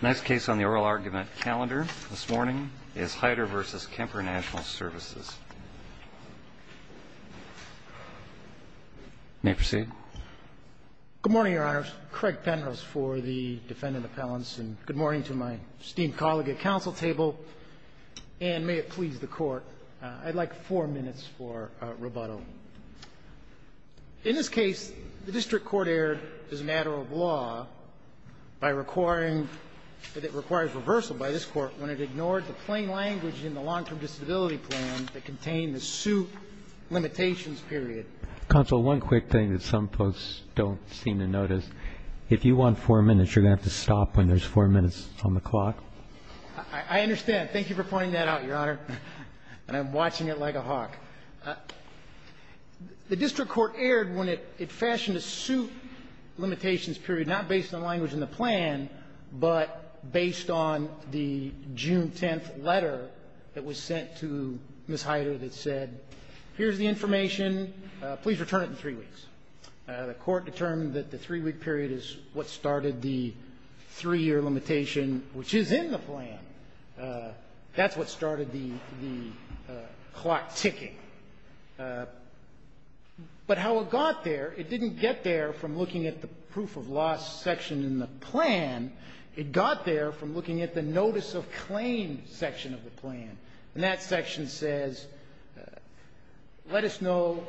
The next case on the oral argument calendar this morning is Hyder v. Kemper Natl Services. You may proceed. Good morning, Your Honors. Craig Penrose for the Defendant Appellants, and good morning to my esteemed colleague at counsel table, and may it please the Court, I'd like four minutes for rebuttal. In this case, the district court erred as a matter of law by requiring that it requires reversal by this Court when it ignored the plain language in the long-term disability plan that contained the suit limitations period. Counsel, one quick thing that some folks don't seem to notice, if you want four minutes, you're going to have to stop when there's four minutes on the clock. I understand. Thank you for pointing that out, Your Honor, and I'm watching it like a hawk. The district court erred when it fashioned a suit limitations period not based on language in the plan, but based on the June 10th letter that was sent to Ms. Hyder that said, here's the information, please return it in three weeks. The Court determined that the three-week period is what started the three-year limitation, which is in the plan. That's what started the clock ticking. But how it got there, it didn't get there from looking at the proof of loss section in the plan. It got there from looking at the notice of claim section of the plan. And that section says, let us know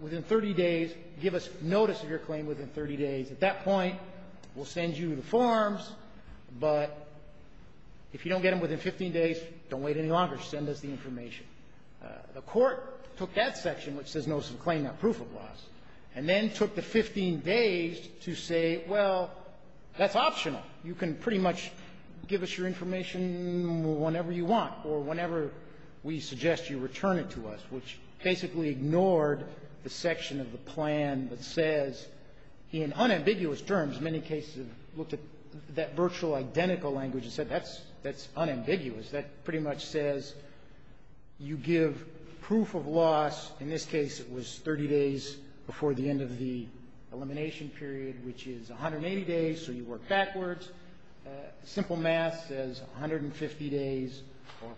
within 30 days, give us notice of your claim within 30 days. At that point, we'll send you the forms, but if you don't get them within 15 days, don't wait any longer. Just send us the information. The Court took that section, which says notice of claim, not proof of loss, and then took the 15 days to say, well, that's optional. You can pretty much give us your information whenever you want or whenever we suggest you return it to us, which basically ignored the section of the plan that says, in unambiguous terms, many cases have looked at that virtual identical language and said that's unambiguous. That pretty much says you give proof of loss. In this case, it was 30 days before the end of the elimination period, which is 180 days, so you work backwards. Simple math says 150 days or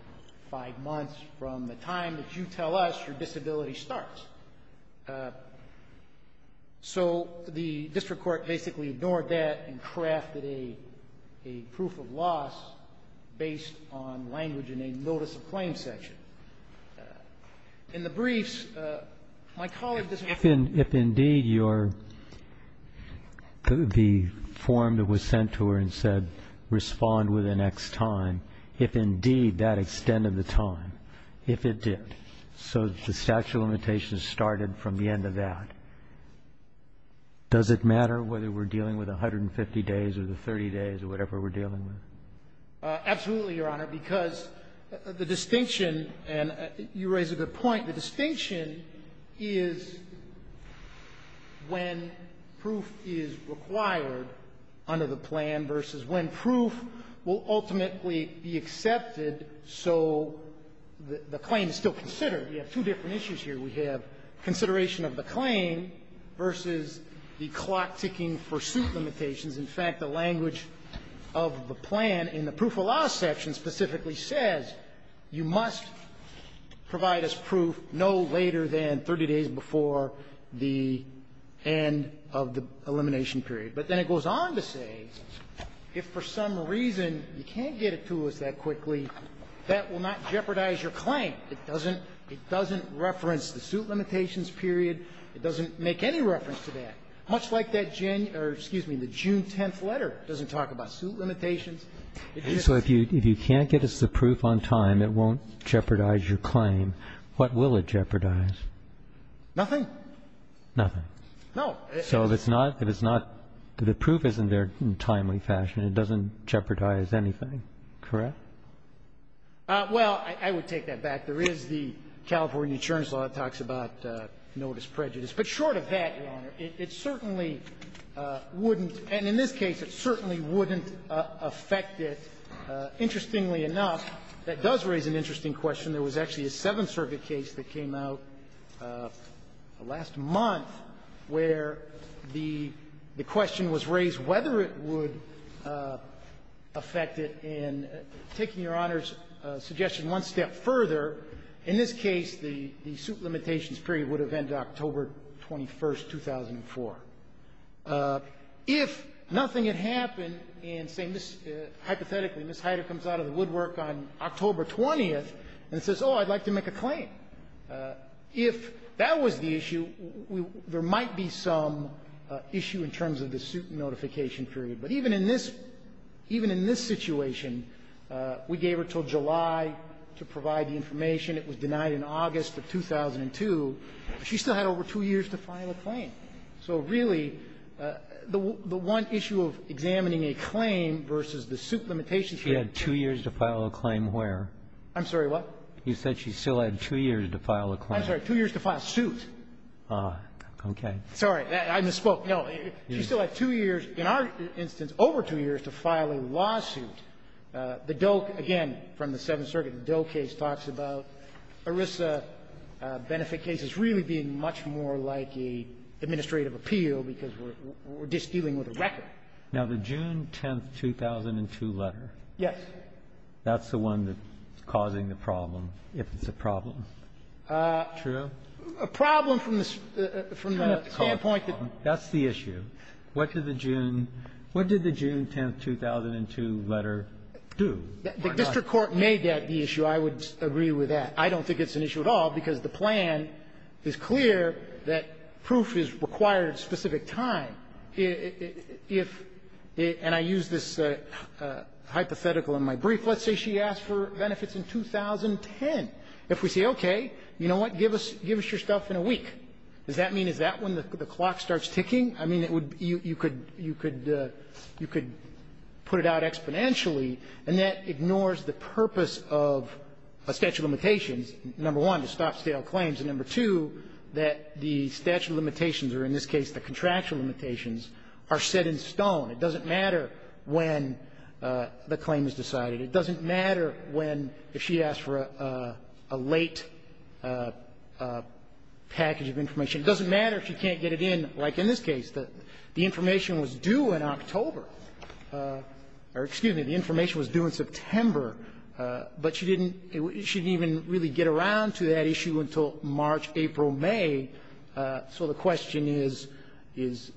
five months from the time that you tell us your disability starts. So the district court basically ignored that and crafted a proof of loss based on language in a notice of claim section. In the briefs, my colleague does not ---- If indeed your the form that was sent to her and said respond within X time, if indeed that extended the time, if it did, so the statute of limitations started from the end of that, does it matter whether we're dealing with 150 days or the 30 days or whatever we're dealing with? Absolutely, Your Honor, because the distinction, and you raise a good point, the distinction is when proof is required under the plan versus when proof will ultimately be accepted so the claim is still considered. We have two different issues here. We have consideration of the claim versus the clock ticking for suit limitations. In fact, the language of the plan in the proof of loss section specifically says you must provide us proof no later than 30 days before the end of the elimination period, but then it goes on to say if for some reason you can't get it to us that quickly, that will not jeopardize your claim. It doesn't reference the suit limitations period. It doesn't make any reference to that. Much like that June 10th letter doesn't talk about suit limitations. So if you can't get us the proof on time, it won't jeopardize your claim. What will it jeopardize? Nothing. Nothing. No. So if it's not, if it's not, if the proof isn't there in a timely fashion, it doesn't jeopardize anything, correct? Well, I would take that back. There is the California insurance law that talks about notice prejudice. But short of that, Your Honor, it certainly wouldn't, and in this case, it certainly wouldn't affect it. Interestingly enough, that does raise an interesting question. There was actually a Seventh Circuit case that came out last month where the question was raised whether it would affect it in taking Your Honor's suggestion one step further. In this case, the suit limitations period would have ended October 21st, 2004. If nothing had happened and, hypothetically, Ms. Heider comes out of the woodwork on October 20th and says, oh, I'd like to make a claim, if that was the issue, there might be some issue in terms of the suit notification period. But even in this, even in this situation, we gave her until July to provide the information. It was denied in August of 2002. She still had over two years to file a claim. So really, the one issue of examining a claim versus the suit limitations period. She had two years to file a claim where? I'm sorry, what? You said she still had two years to file a claim. I'm sorry. Two years to file a suit. Okay. Sorry. I misspoke. No. She still had two years. In our instance, over two years to file a lawsuit. The Dole, again, from the Seventh Circuit, the Dole case talks about ERISA benefit cases really being much more like an administrative appeal because we're just dealing with a record. Now, the June 10th, 2002 letter. Yes. That's the one that's causing the problem, if it's a problem. True. A problem from the standpoint that. That's the issue. What did the June 10th, 2002 letter do? The district court made that the issue. I would agree with that. I don't think it's an issue at all because the plan is clear that proof is required at a specific time. If, and I use this hypothetical in my brief, let's say she asked for benefits in 2010. If we say, okay, you know what, give us your stuff in a week, does that mean is that when the clock starts ticking? I mean, you could put it out exponentially, and that ignores the purpose of a statute of limitations, number one, to stop stale claims, and number two, that the statute of limitations, or in this case the contractual limitations, are set in stone. It doesn't matter when the claim is decided. It doesn't matter when, if she asked for a late package of information. It doesn't matter if she can't get it in, like in this case, the information was due in October, or excuse me, the information was due in September, but she didn't even really get around to that issue until March, April, May. So the question is, is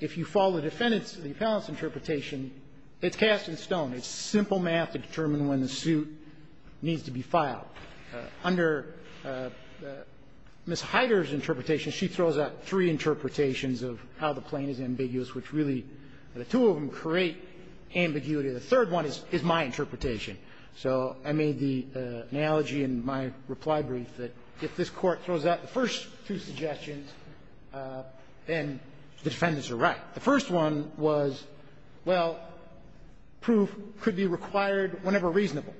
if you follow the defendant's, the appellant's interpretation, it's cast in stone. It's simple math to determine when the suit needs to be filed. Under Ms. Heider's interpretation, she throws out three interpretations of how the claim is ambiguous, which really, the two of them create ambiguity. The third one is my interpretation. So I made the analogy in my reply brief that if this Court throws out the first two suggestions, then the defendants are right. The first one was, well, proof could be required whenever reasonable.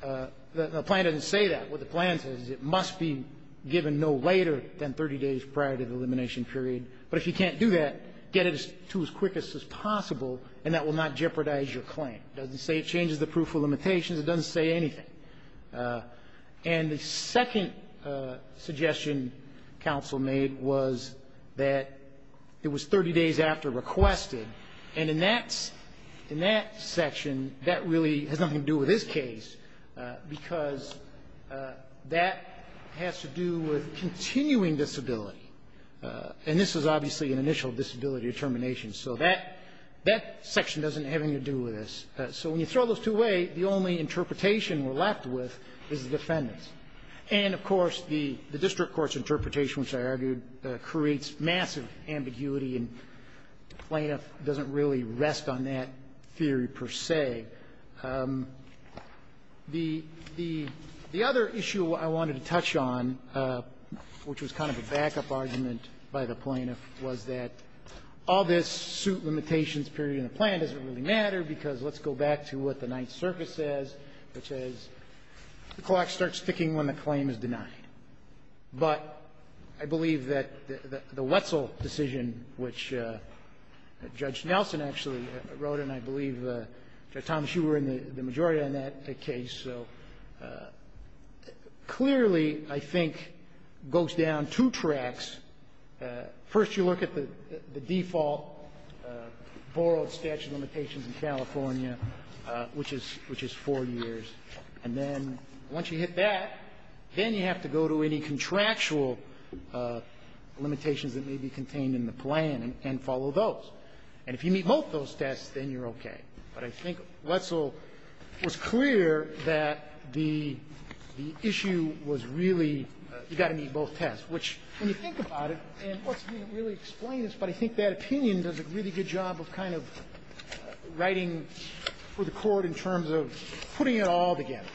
The plan doesn't say that. What the plan says is it must be given no later than 30 days prior to the elimination period. But if you can't do that, get it to as quick as is possible, and that will not jeopardize your claim. It doesn't say it changes the proof of limitations. It doesn't say anything. And the second suggestion counsel made was that it was 30 days after requested. And in that section, that really has nothing to do with this case, because that has to do with continuing disability. And this was obviously an initial disability determination. So that section doesn't have anything to do with this. So when you throw those two away, the only interpretation we're left with is the defendants. And, of course, the district court's interpretation, which I argued, creates massive ambiguity, and the plaintiff doesn't really rest on that theory per se. The other issue I wanted to touch on, which was kind of a backup argument by the plaintiff, was that all this suit limitations period in the plan doesn't really matter because let's go back to what the Ninth Circuit says, which is the clock starts ticking when the claim is denied. But I believe that the Wetzel decision, which Judge Nelson actually wrote, and I believe Judge Thomas, you were in the majority on that case, so clearly, I think, goes down two tracks. First, you look at the default borrowed statute of limitations in California, which is four years. And then once you hit that, then you have to go to any contractual limitations that may be contained in the plan and follow those. And if you meet both those tests, then you're okay. But I think Wetzel was clear that the issue was really you've got to meet both tests, which, when you think about it, and of course, we didn't really explain this, but I think that opinion does a really good job of kind of writing for the Court in terms of putting it all together,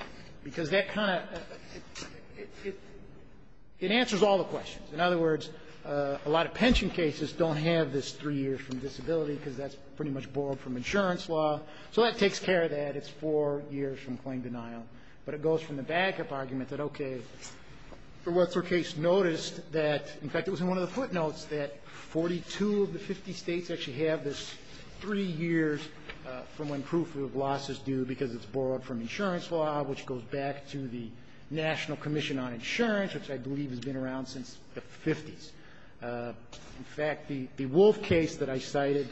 because that kind of – it answers all the questions. In other words, a lot of pension cases don't have this three years from disability because that's pretty much borrowed from insurance law, so that takes care of that. That's four years from claim denial. But it goes from the backup argument that, okay, the Wetzel case noticed that – in fact, it was in one of the footnotes that 42 of the 50 states actually have this three years from when proof of loss is due because it's borrowed from insurance law, which goes back to the National Commission on Insurance, which I believe has been around since the 50s. In fact, the Wolf case that I cited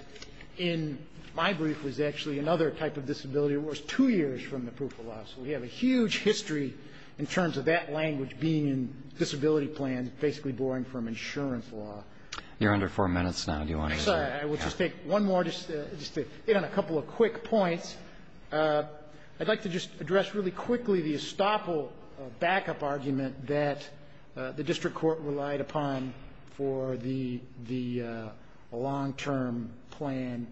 in my brief was actually another type of disability that was two years from the proof of loss. We have a huge history in terms of that language being in disability plans, basically borrowing from insurance law. You're under four minutes now. Do you want to answer? I'm sorry. I will just take one more, just to hit on a couple of quick points. I'd like to just address really quickly the estoppel backup argument that the District Court relied upon for the long-term plan.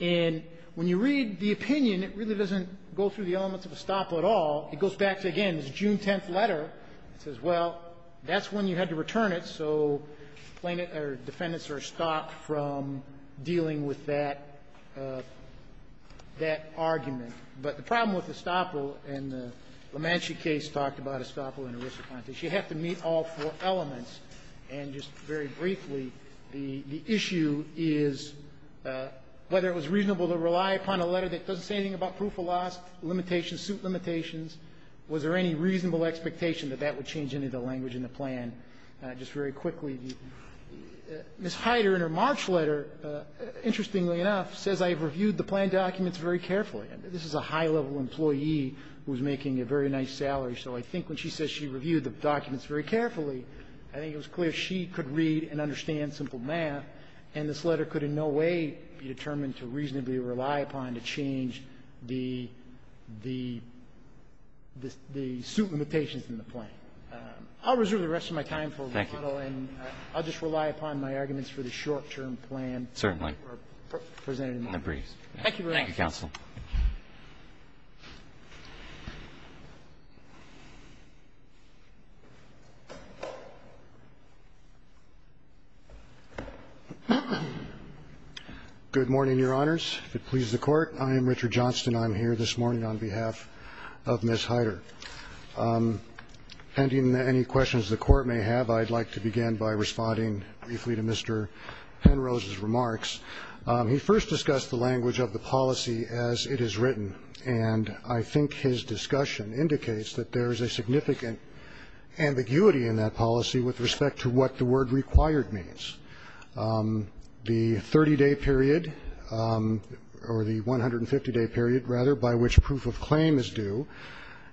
And when you read the opinion, it really doesn't go through the elements of estoppel at all. It goes back to, again, this June 10th letter. It says, well, that's when you had to return it. So plaintiffs or defendants are stopped from dealing with that – that argument. But the problem with estoppel and the LaManchi case talked about estoppel and the risk whether it was reasonable to rely upon a letter that doesn't say anything about proof of loss, limitations, suit limitations. Was there any reasonable expectation that that would change any of the language in the plan? Just very quickly, Ms. Heider, in her March letter, interestingly enough, says, I have reviewed the plan documents very carefully. This is a high-level employee who is making a very nice salary. So I think when she says she reviewed the documents very carefully, I think it was clear she could read and understand simple math. And this letter could in no way be determined to reasonably rely upon to change the – the – the suit limitations in the plan. I'll reserve the rest of my time for rebuttal. And I'll just rely upon my arguments for the short-term plan presented in the briefs. Thank you very much. Thank you, counsel. Good morning, Your Honors. If it pleases the Court, I am Richard Johnston. I am here this morning on behalf of Ms. Heider. Ending any questions the Court may have, I'd like to begin by responding briefly to Mr. Penrose's remarks. He first discussed the language of the policy as it is written. And I think his discussion indicates that there is a significant ambiguity in that policy with respect to what the word required means. The 30-day period, or the 150-day period, rather, by which proof of claim is due,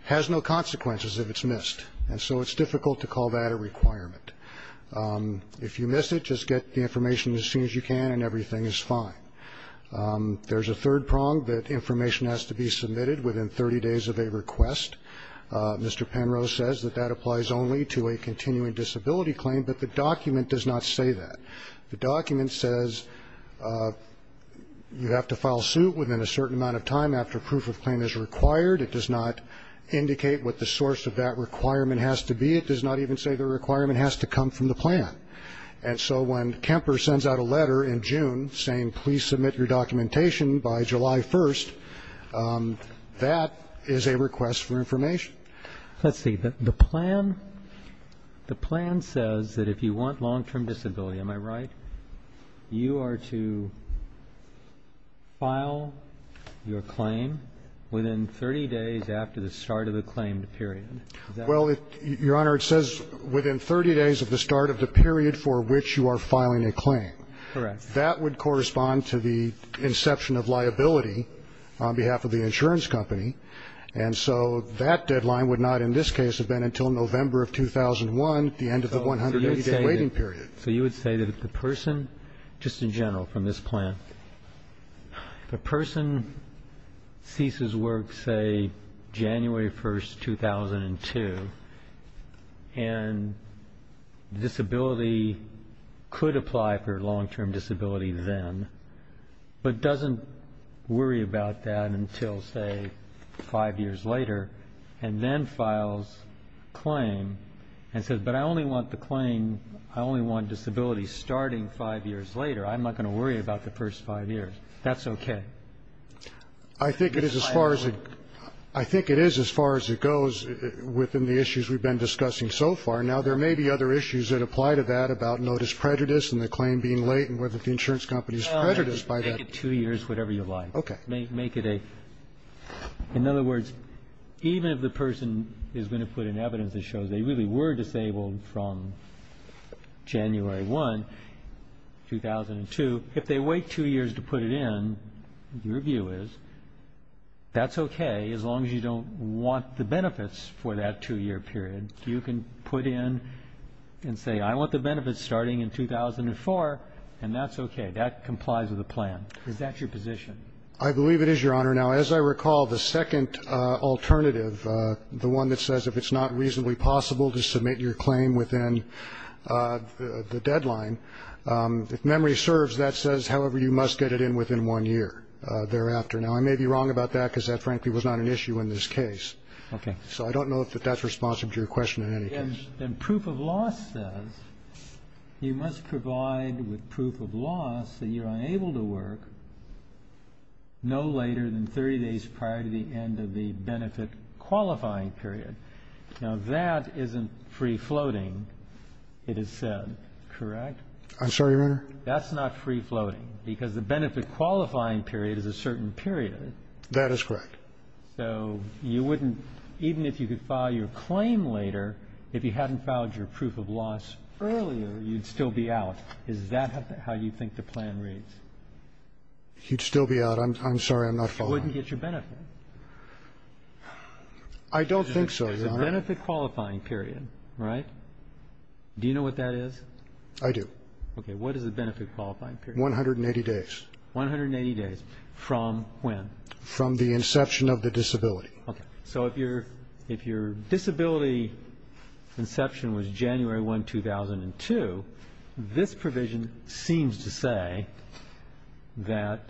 has no consequences if it's missed. And so it's difficult to call that a requirement. If you miss it, just get the information as soon as you can, and everything is fine. There's a third prong, that information has to be submitted within 30 days of a request. Mr. Penrose says that that applies only to a continuing disability claim, but the document does not say that. The document says you have to file suit within a certain amount of time after proof of claim is required. It does not indicate what the source of that requirement has to be. It does not even say the requirement has to come from the plan. And so when Kemper sends out a letter in June saying, please submit your documentation by July 1st, that is a request for information. Let's see. The plan says that if you want long-term disability, am I right, you are to file your claim within 30 days after the start of the claimed period. Well, Your Honor, it says within 30 days of the start of the period for which you are filing a claim. Correct. That would correspond to the inception of liability on behalf of the insurance company. And so that deadline would not in this case have been until November of 2001, the end of the 180-day waiting period. So you would say that the person, just in general from this plan, the person ceases work, say, January 1st, 2002, and the disability could apply for long-term disability then, but doesn't worry about that until, say, five years later, and then files a claim and says, but I only want the claim, I only want disability starting five years later. I'm not going to worry about the first five years. That's okay. I think it is as far as it goes within the issues we've been discussing so far. Now, there may be other issues that apply to that about notice prejudice and the claim being late and whether the insurance company is prejudiced by that. Make it two years, whatever you like. Okay. In other words, even if the person is going to put in evidence that shows they really were disabled from January 1, 2002, if they wait two years to put it in, your view is that's okay, as long as you don't want the benefits for that two-year period. You can put in and say, I want the benefits starting in 2004, and that's okay. That complies with the plan. Is that your position? I believe it is, Your Honor. Now, as I recall, the second alternative, the one that says if it's not reasonably possible to submit your claim within the deadline, if memory serves, that says, however, you must get it in within one year thereafter. Now, I may be wrong about that because that, frankly, was not an issue in this case. Okay. So I don't know if that's responsive to your question in any case. And proof of loss says you must provide with proof of loss that you're unable to work no later than 30 days prior to the end of the benefit-qualifying period. Now, that isn't free-floating, it is said, correct? I'm sorry, Your Honor? That's not free-floating because the benefit-qualifying period is a certain period. That is correct. So you wouldn't, even if you could file your claim later, if you hadn't filed your proof of loss earlier, you'd still be out. Is that how you think the plan reads? You'd still be out. I'm sorry, I'm not following. You wouldn't get your benefit. I don't think so, Your Honor. There's a benefit-qualifying period, right? Do you know what that is? I do. Okay. What is the benefit-qualifying period? 180 days. 180 days from when? From the inception of the disability. Okay. So if your disability inception was January 1, 2002, this provision seems to say that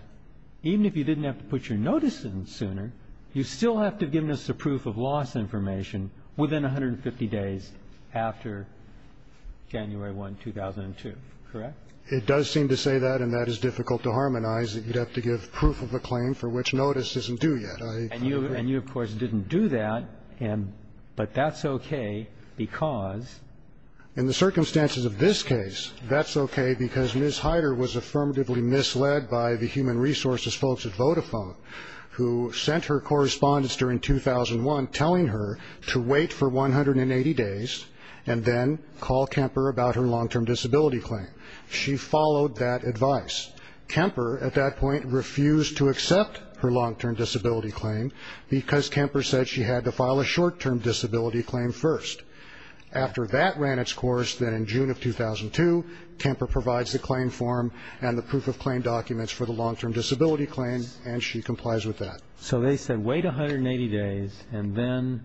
even if you didn't have to put your notice in sooner, you still have to have given us the proof of loss information within 150 days after January 1, 2002, correct? It does seem to say that, and that is difficult to harmonize, that you'd have to give proof of a claim for which notice isn't due yet. And you, of course, didn't do that, but that's okay because? In the circumstances of this case, that's okay because Ms. Heider was affirmatively misled by the human resources folks at Vodafone who sent her correspondence during 2001 telling her to wait for 180 days and then call Kemper about her long-term disability claim. She followed that advice. Kemper, at that point, refused to accept her long-term disability claim because Kemper said she had to file a short-term disability claim first. After that ran its course, then in June of 2002, Kemper provides the claim form and the proof of claim documents for the long-term disability claim, and she complies with that. So they said wait 180 days and then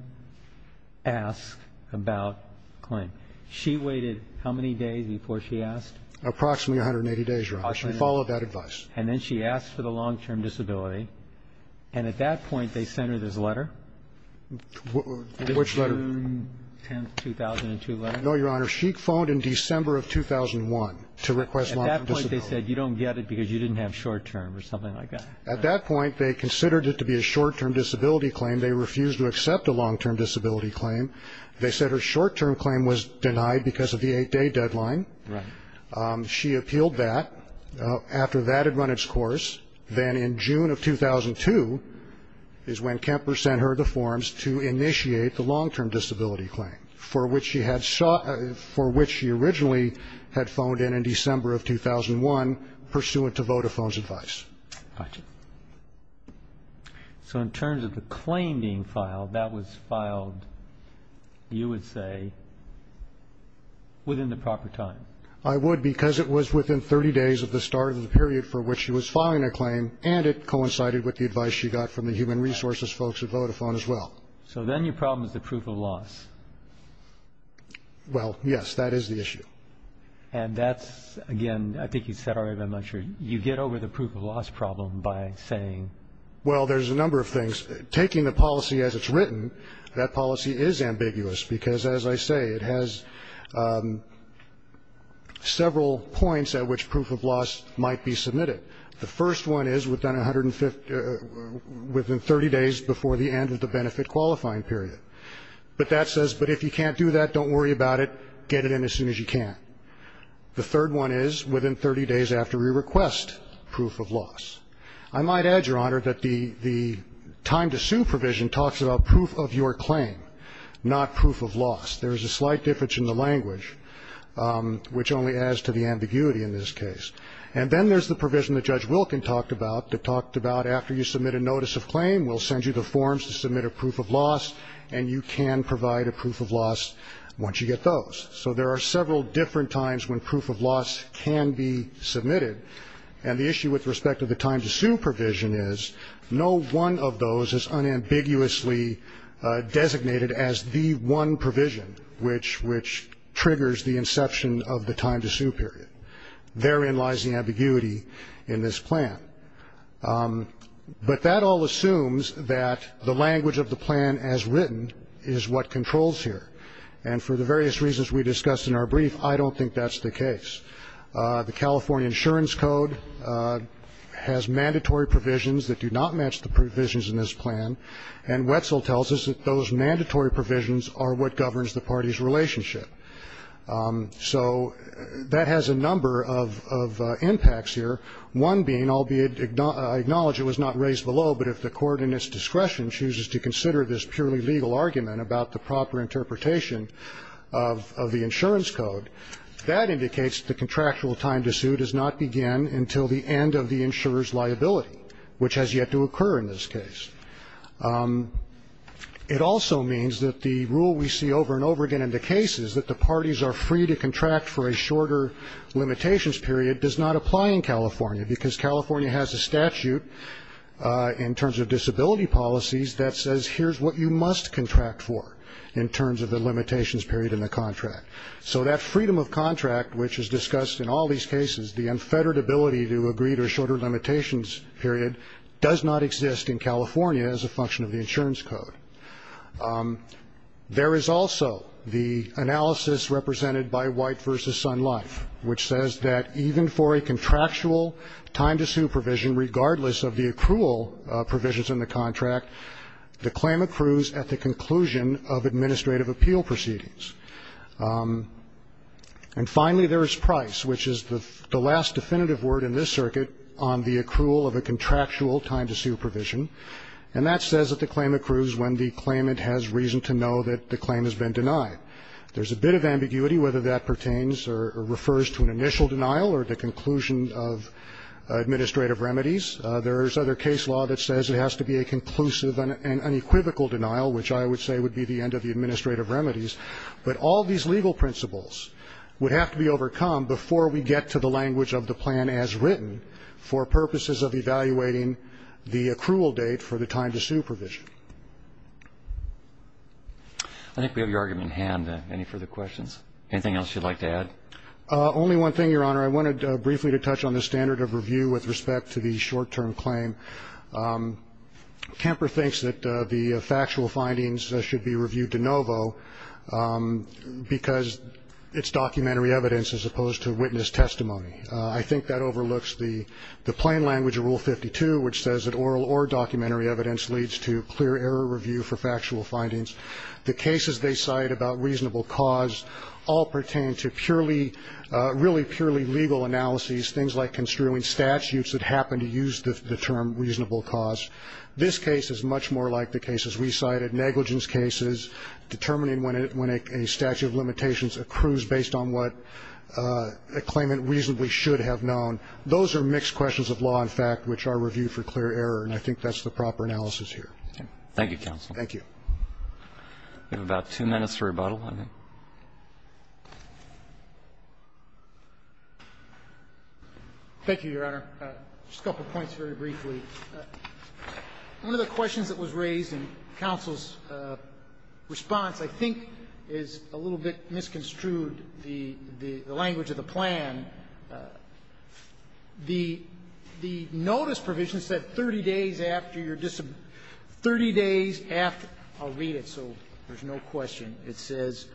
ask about the claim. She waited how many days before she asked? Approximately 180 days, Your Honor. She followed that advice. And then she asked for the long-term disability, and at that point they sent her this letter. Which letter? June 10, 2002 letter. No, Your Honor. She phoned in December of 2001 to request long-term disability. At that point they said you don't get it because you didn't have short-term or something like that. At that point they considered it to be a short-term disability claim. They refused to accept a long-term disability claim. They said her short-term claim was denied because of the eight-day deadline. Right. She appealed that. After that had run its course, then in June of 2002 is when Kemper sent her the forms to initiate the long-term disability claim, for which she originally had phoned in in December of 2001 pursuant to Vodafone's advice. Gotcha. So in terms of the claim being filed, that was filed, you would say, within the proper time? I would, because it was within 30 days of the start of the period for which she was filing a claim, and it coincided with the advice she got from the human resources folks at Vodafone as well. So then your problem is the proof of loss. Well, yes, that is the issue. And that's, again, I think you said already, but I'm not sure, you get over the proof of loss problem by saying? Well, there's a number of things. Taking the policy as it's written, that policy is ambiguous because, as I say, it has several points at which proof of loss might be submitted. The first one is within 150 or within 30 days before the end of the benefit qualifying period. But that says, but if you can't do that, don't worry about it, get it in as soon as you can. The third one is within 30 days after we request proof of loss. I might add, Your Honor, that the time to sue provision talks about proof of your claim, not proof of loss. There is a slight difference in the language, which only adds to the ambiguity in this case. And then there's the provision that Judge Wilkin talked about that talked about after you submit a notice of claim, we'll send you the forms to submit a proof of loss, and you can provide a proof of loss once you get those. So there are several different times when proof of loss can be submitted. And the issue with respect to the time to sue provision is no one of those is unambiguously designated as the one provision, which triggers the inception of the time to sue period. Therein lies the ambiguity in this plan. But that all assumes that the language of the plan as written is what controls here. And for the various reasons we discussed in our brief, I don't think that's the case. The California Insurance Code has mandatory provisions that do not match the provisions in this plan. And Wetzel tells us that those mandatory provisions are what governs the party's relationship. So that has a number of impacts here, one being, albeit I acknowledge it was not raised below, but if the court in its discretion chooses to consider this purely legal argument about the proper interpretation of the insurance code, that indicates the contractual time to sue does not begin until the end of the insurer's liability, which has yet to occur in this case. It also means that the rule we see over and over again in the case is that the parties are free to contract for a shorter limitations period does not apply in California, because California has a statute in terms of disability policies that says, here's what you must contract for in terms of the limitations period in the contract. So that freedom of contract, which is discussed in all these cases, the unfettered ability to agree to a shorter limitations period, does not exist in California as a function of the insurance code. There is also the analysis represented by White v. Sun Life, which says that even for a contractual time to sue provision, regardless of the accrual provisions in the contract, the claim accrues at the conclusion of administrative appeal proceedings. And finally, there is price, which is the last definitive word in this circuit on the accrual of a contractual time to sue provision. And that says that the claim accrues when the claimant has reason to know that the claim has been denied. There's a bit of ambiguity whether that pertains or refers to an initial denial or the conclusion of administrative remedies. There is other case law that says it has to be a conclusive and unequivocal denial, which I would say would be the end of the administrative remedies. But all these legal principles would have to be overcome before we get to the language of the plan as written for purposes of evaluating the accrual date for the time to sue provision. I think we have your argument in hand. Any further questions? Anything else you'd like to add? Only one thing, Your Honor. I wanted briefly to touch on the standard of review with respect to the short-term claim. Kemper thinks that the factual findings should be reviewed de novo because it's documentary evidence as opposed to witness testimony. I think that overlooks the plain language of Rule 52, which says that oral or documentary evidence leads to clear error review for factual findings. The cases they cite about reasonable cause all pertain to purely, really purely legal analyses, things like construing statutes that happen to use the term reasonable cause. This case is much more like the cases we cited, negligence cases, determining when a statute of limitations accrues based on what a claimant reasonably should have known. Those are mixed questions of law and fact, which are reviewed for clear error, and I think that's the proper analysis here. Thank you, counsel. Thank you. We have about two minutes for rebuttal. Go ahead. Thank you, Your Honor. Just a couple of points very briefly. One of the questions that was raised in counsel's response I think is a little bit misconstrued, the language of the plan. The notice provision said 30 days after your 30 days after. I'll read it so there's no question. It says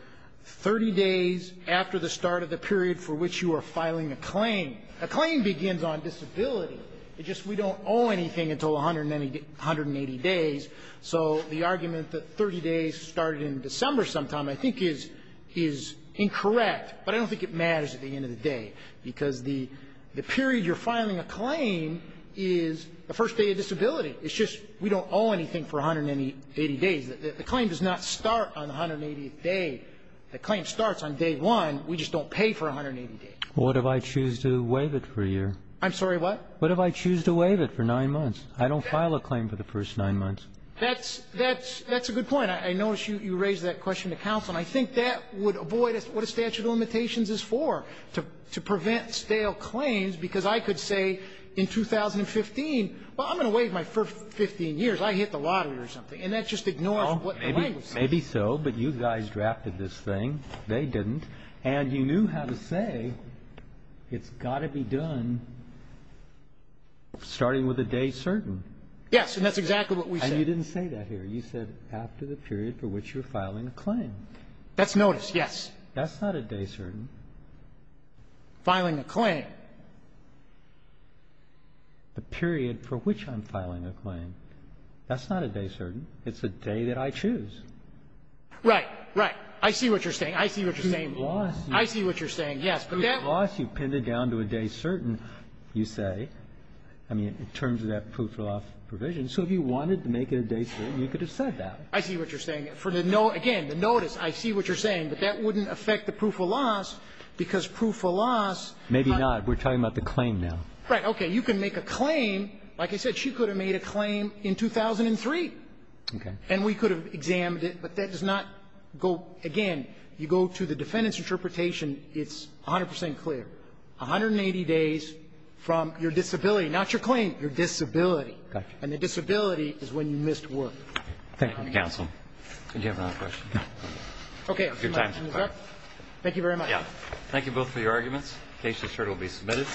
30 days after the start of the period for which you are filing a claim. A claim begins on disability. It's just we don't owe anything until 180 days. So the argument that 30 days started in December sometime I think is incorrect, but I don't think it matters at the end of the day, because the period you're filing a claim is the first day of disability. It's just we don't owe anything for 180 days. The claim does not start on the 180th day. The claim starts on day one. We just don't pay for 180 days. Well, what if I choose to waive it for a year? I'm sorry, what? What if I choose to waive it for nine months? I don't file a claim for the first nine months. That's a good point. I notice you raised that question to counsel, and I think that would avoid what a statute of limitations is for, to prevent stale claims, because I could say in 2015, well, I'm going to waive my first 15 years. I hit the lottery or something. And that just ignores what the language says. Maybe so, but you guys drafted this thing. They didn't. And you knew how to say it's got to be done starting with a day certain. Yes, and that's exactly what we said. And you didn't say that here. You said after the period for which you're filing a claim. That's noticed, yes. That's not a day certain. Filing a claim. The period for which I'm filing a claim. That's not a day certain. It's a day that I choose. Right. Right. I see what you're saying. I see what you're saying. I see what you're saying. Yes. But that was you pinned it down to a day certain, you say. I mean, in terms of that proof of loss provision. So if you wanted to make it a day certain, you could have said that. I see what you're saying. Again, the notice, I see what you're saying. But that wouldn't affect the proof of loss, because proof of loss. Maybe not. We're talking about the claim now. Right. You can make a claim. Like I said, she could have made a claim in 2003. Okay. And we could have examined it. But that does not go. Again, you go to the defendant's interpretation, it's 100 percent clear. 180 days from your disability. Not your claim. Your disability. Okay. And the disability is when you missed work. Thank you, counsel. Do you have another question? No. Okay. Thank you very much. Yeah. Thank you both for your arguments. The case is sure to be submitted.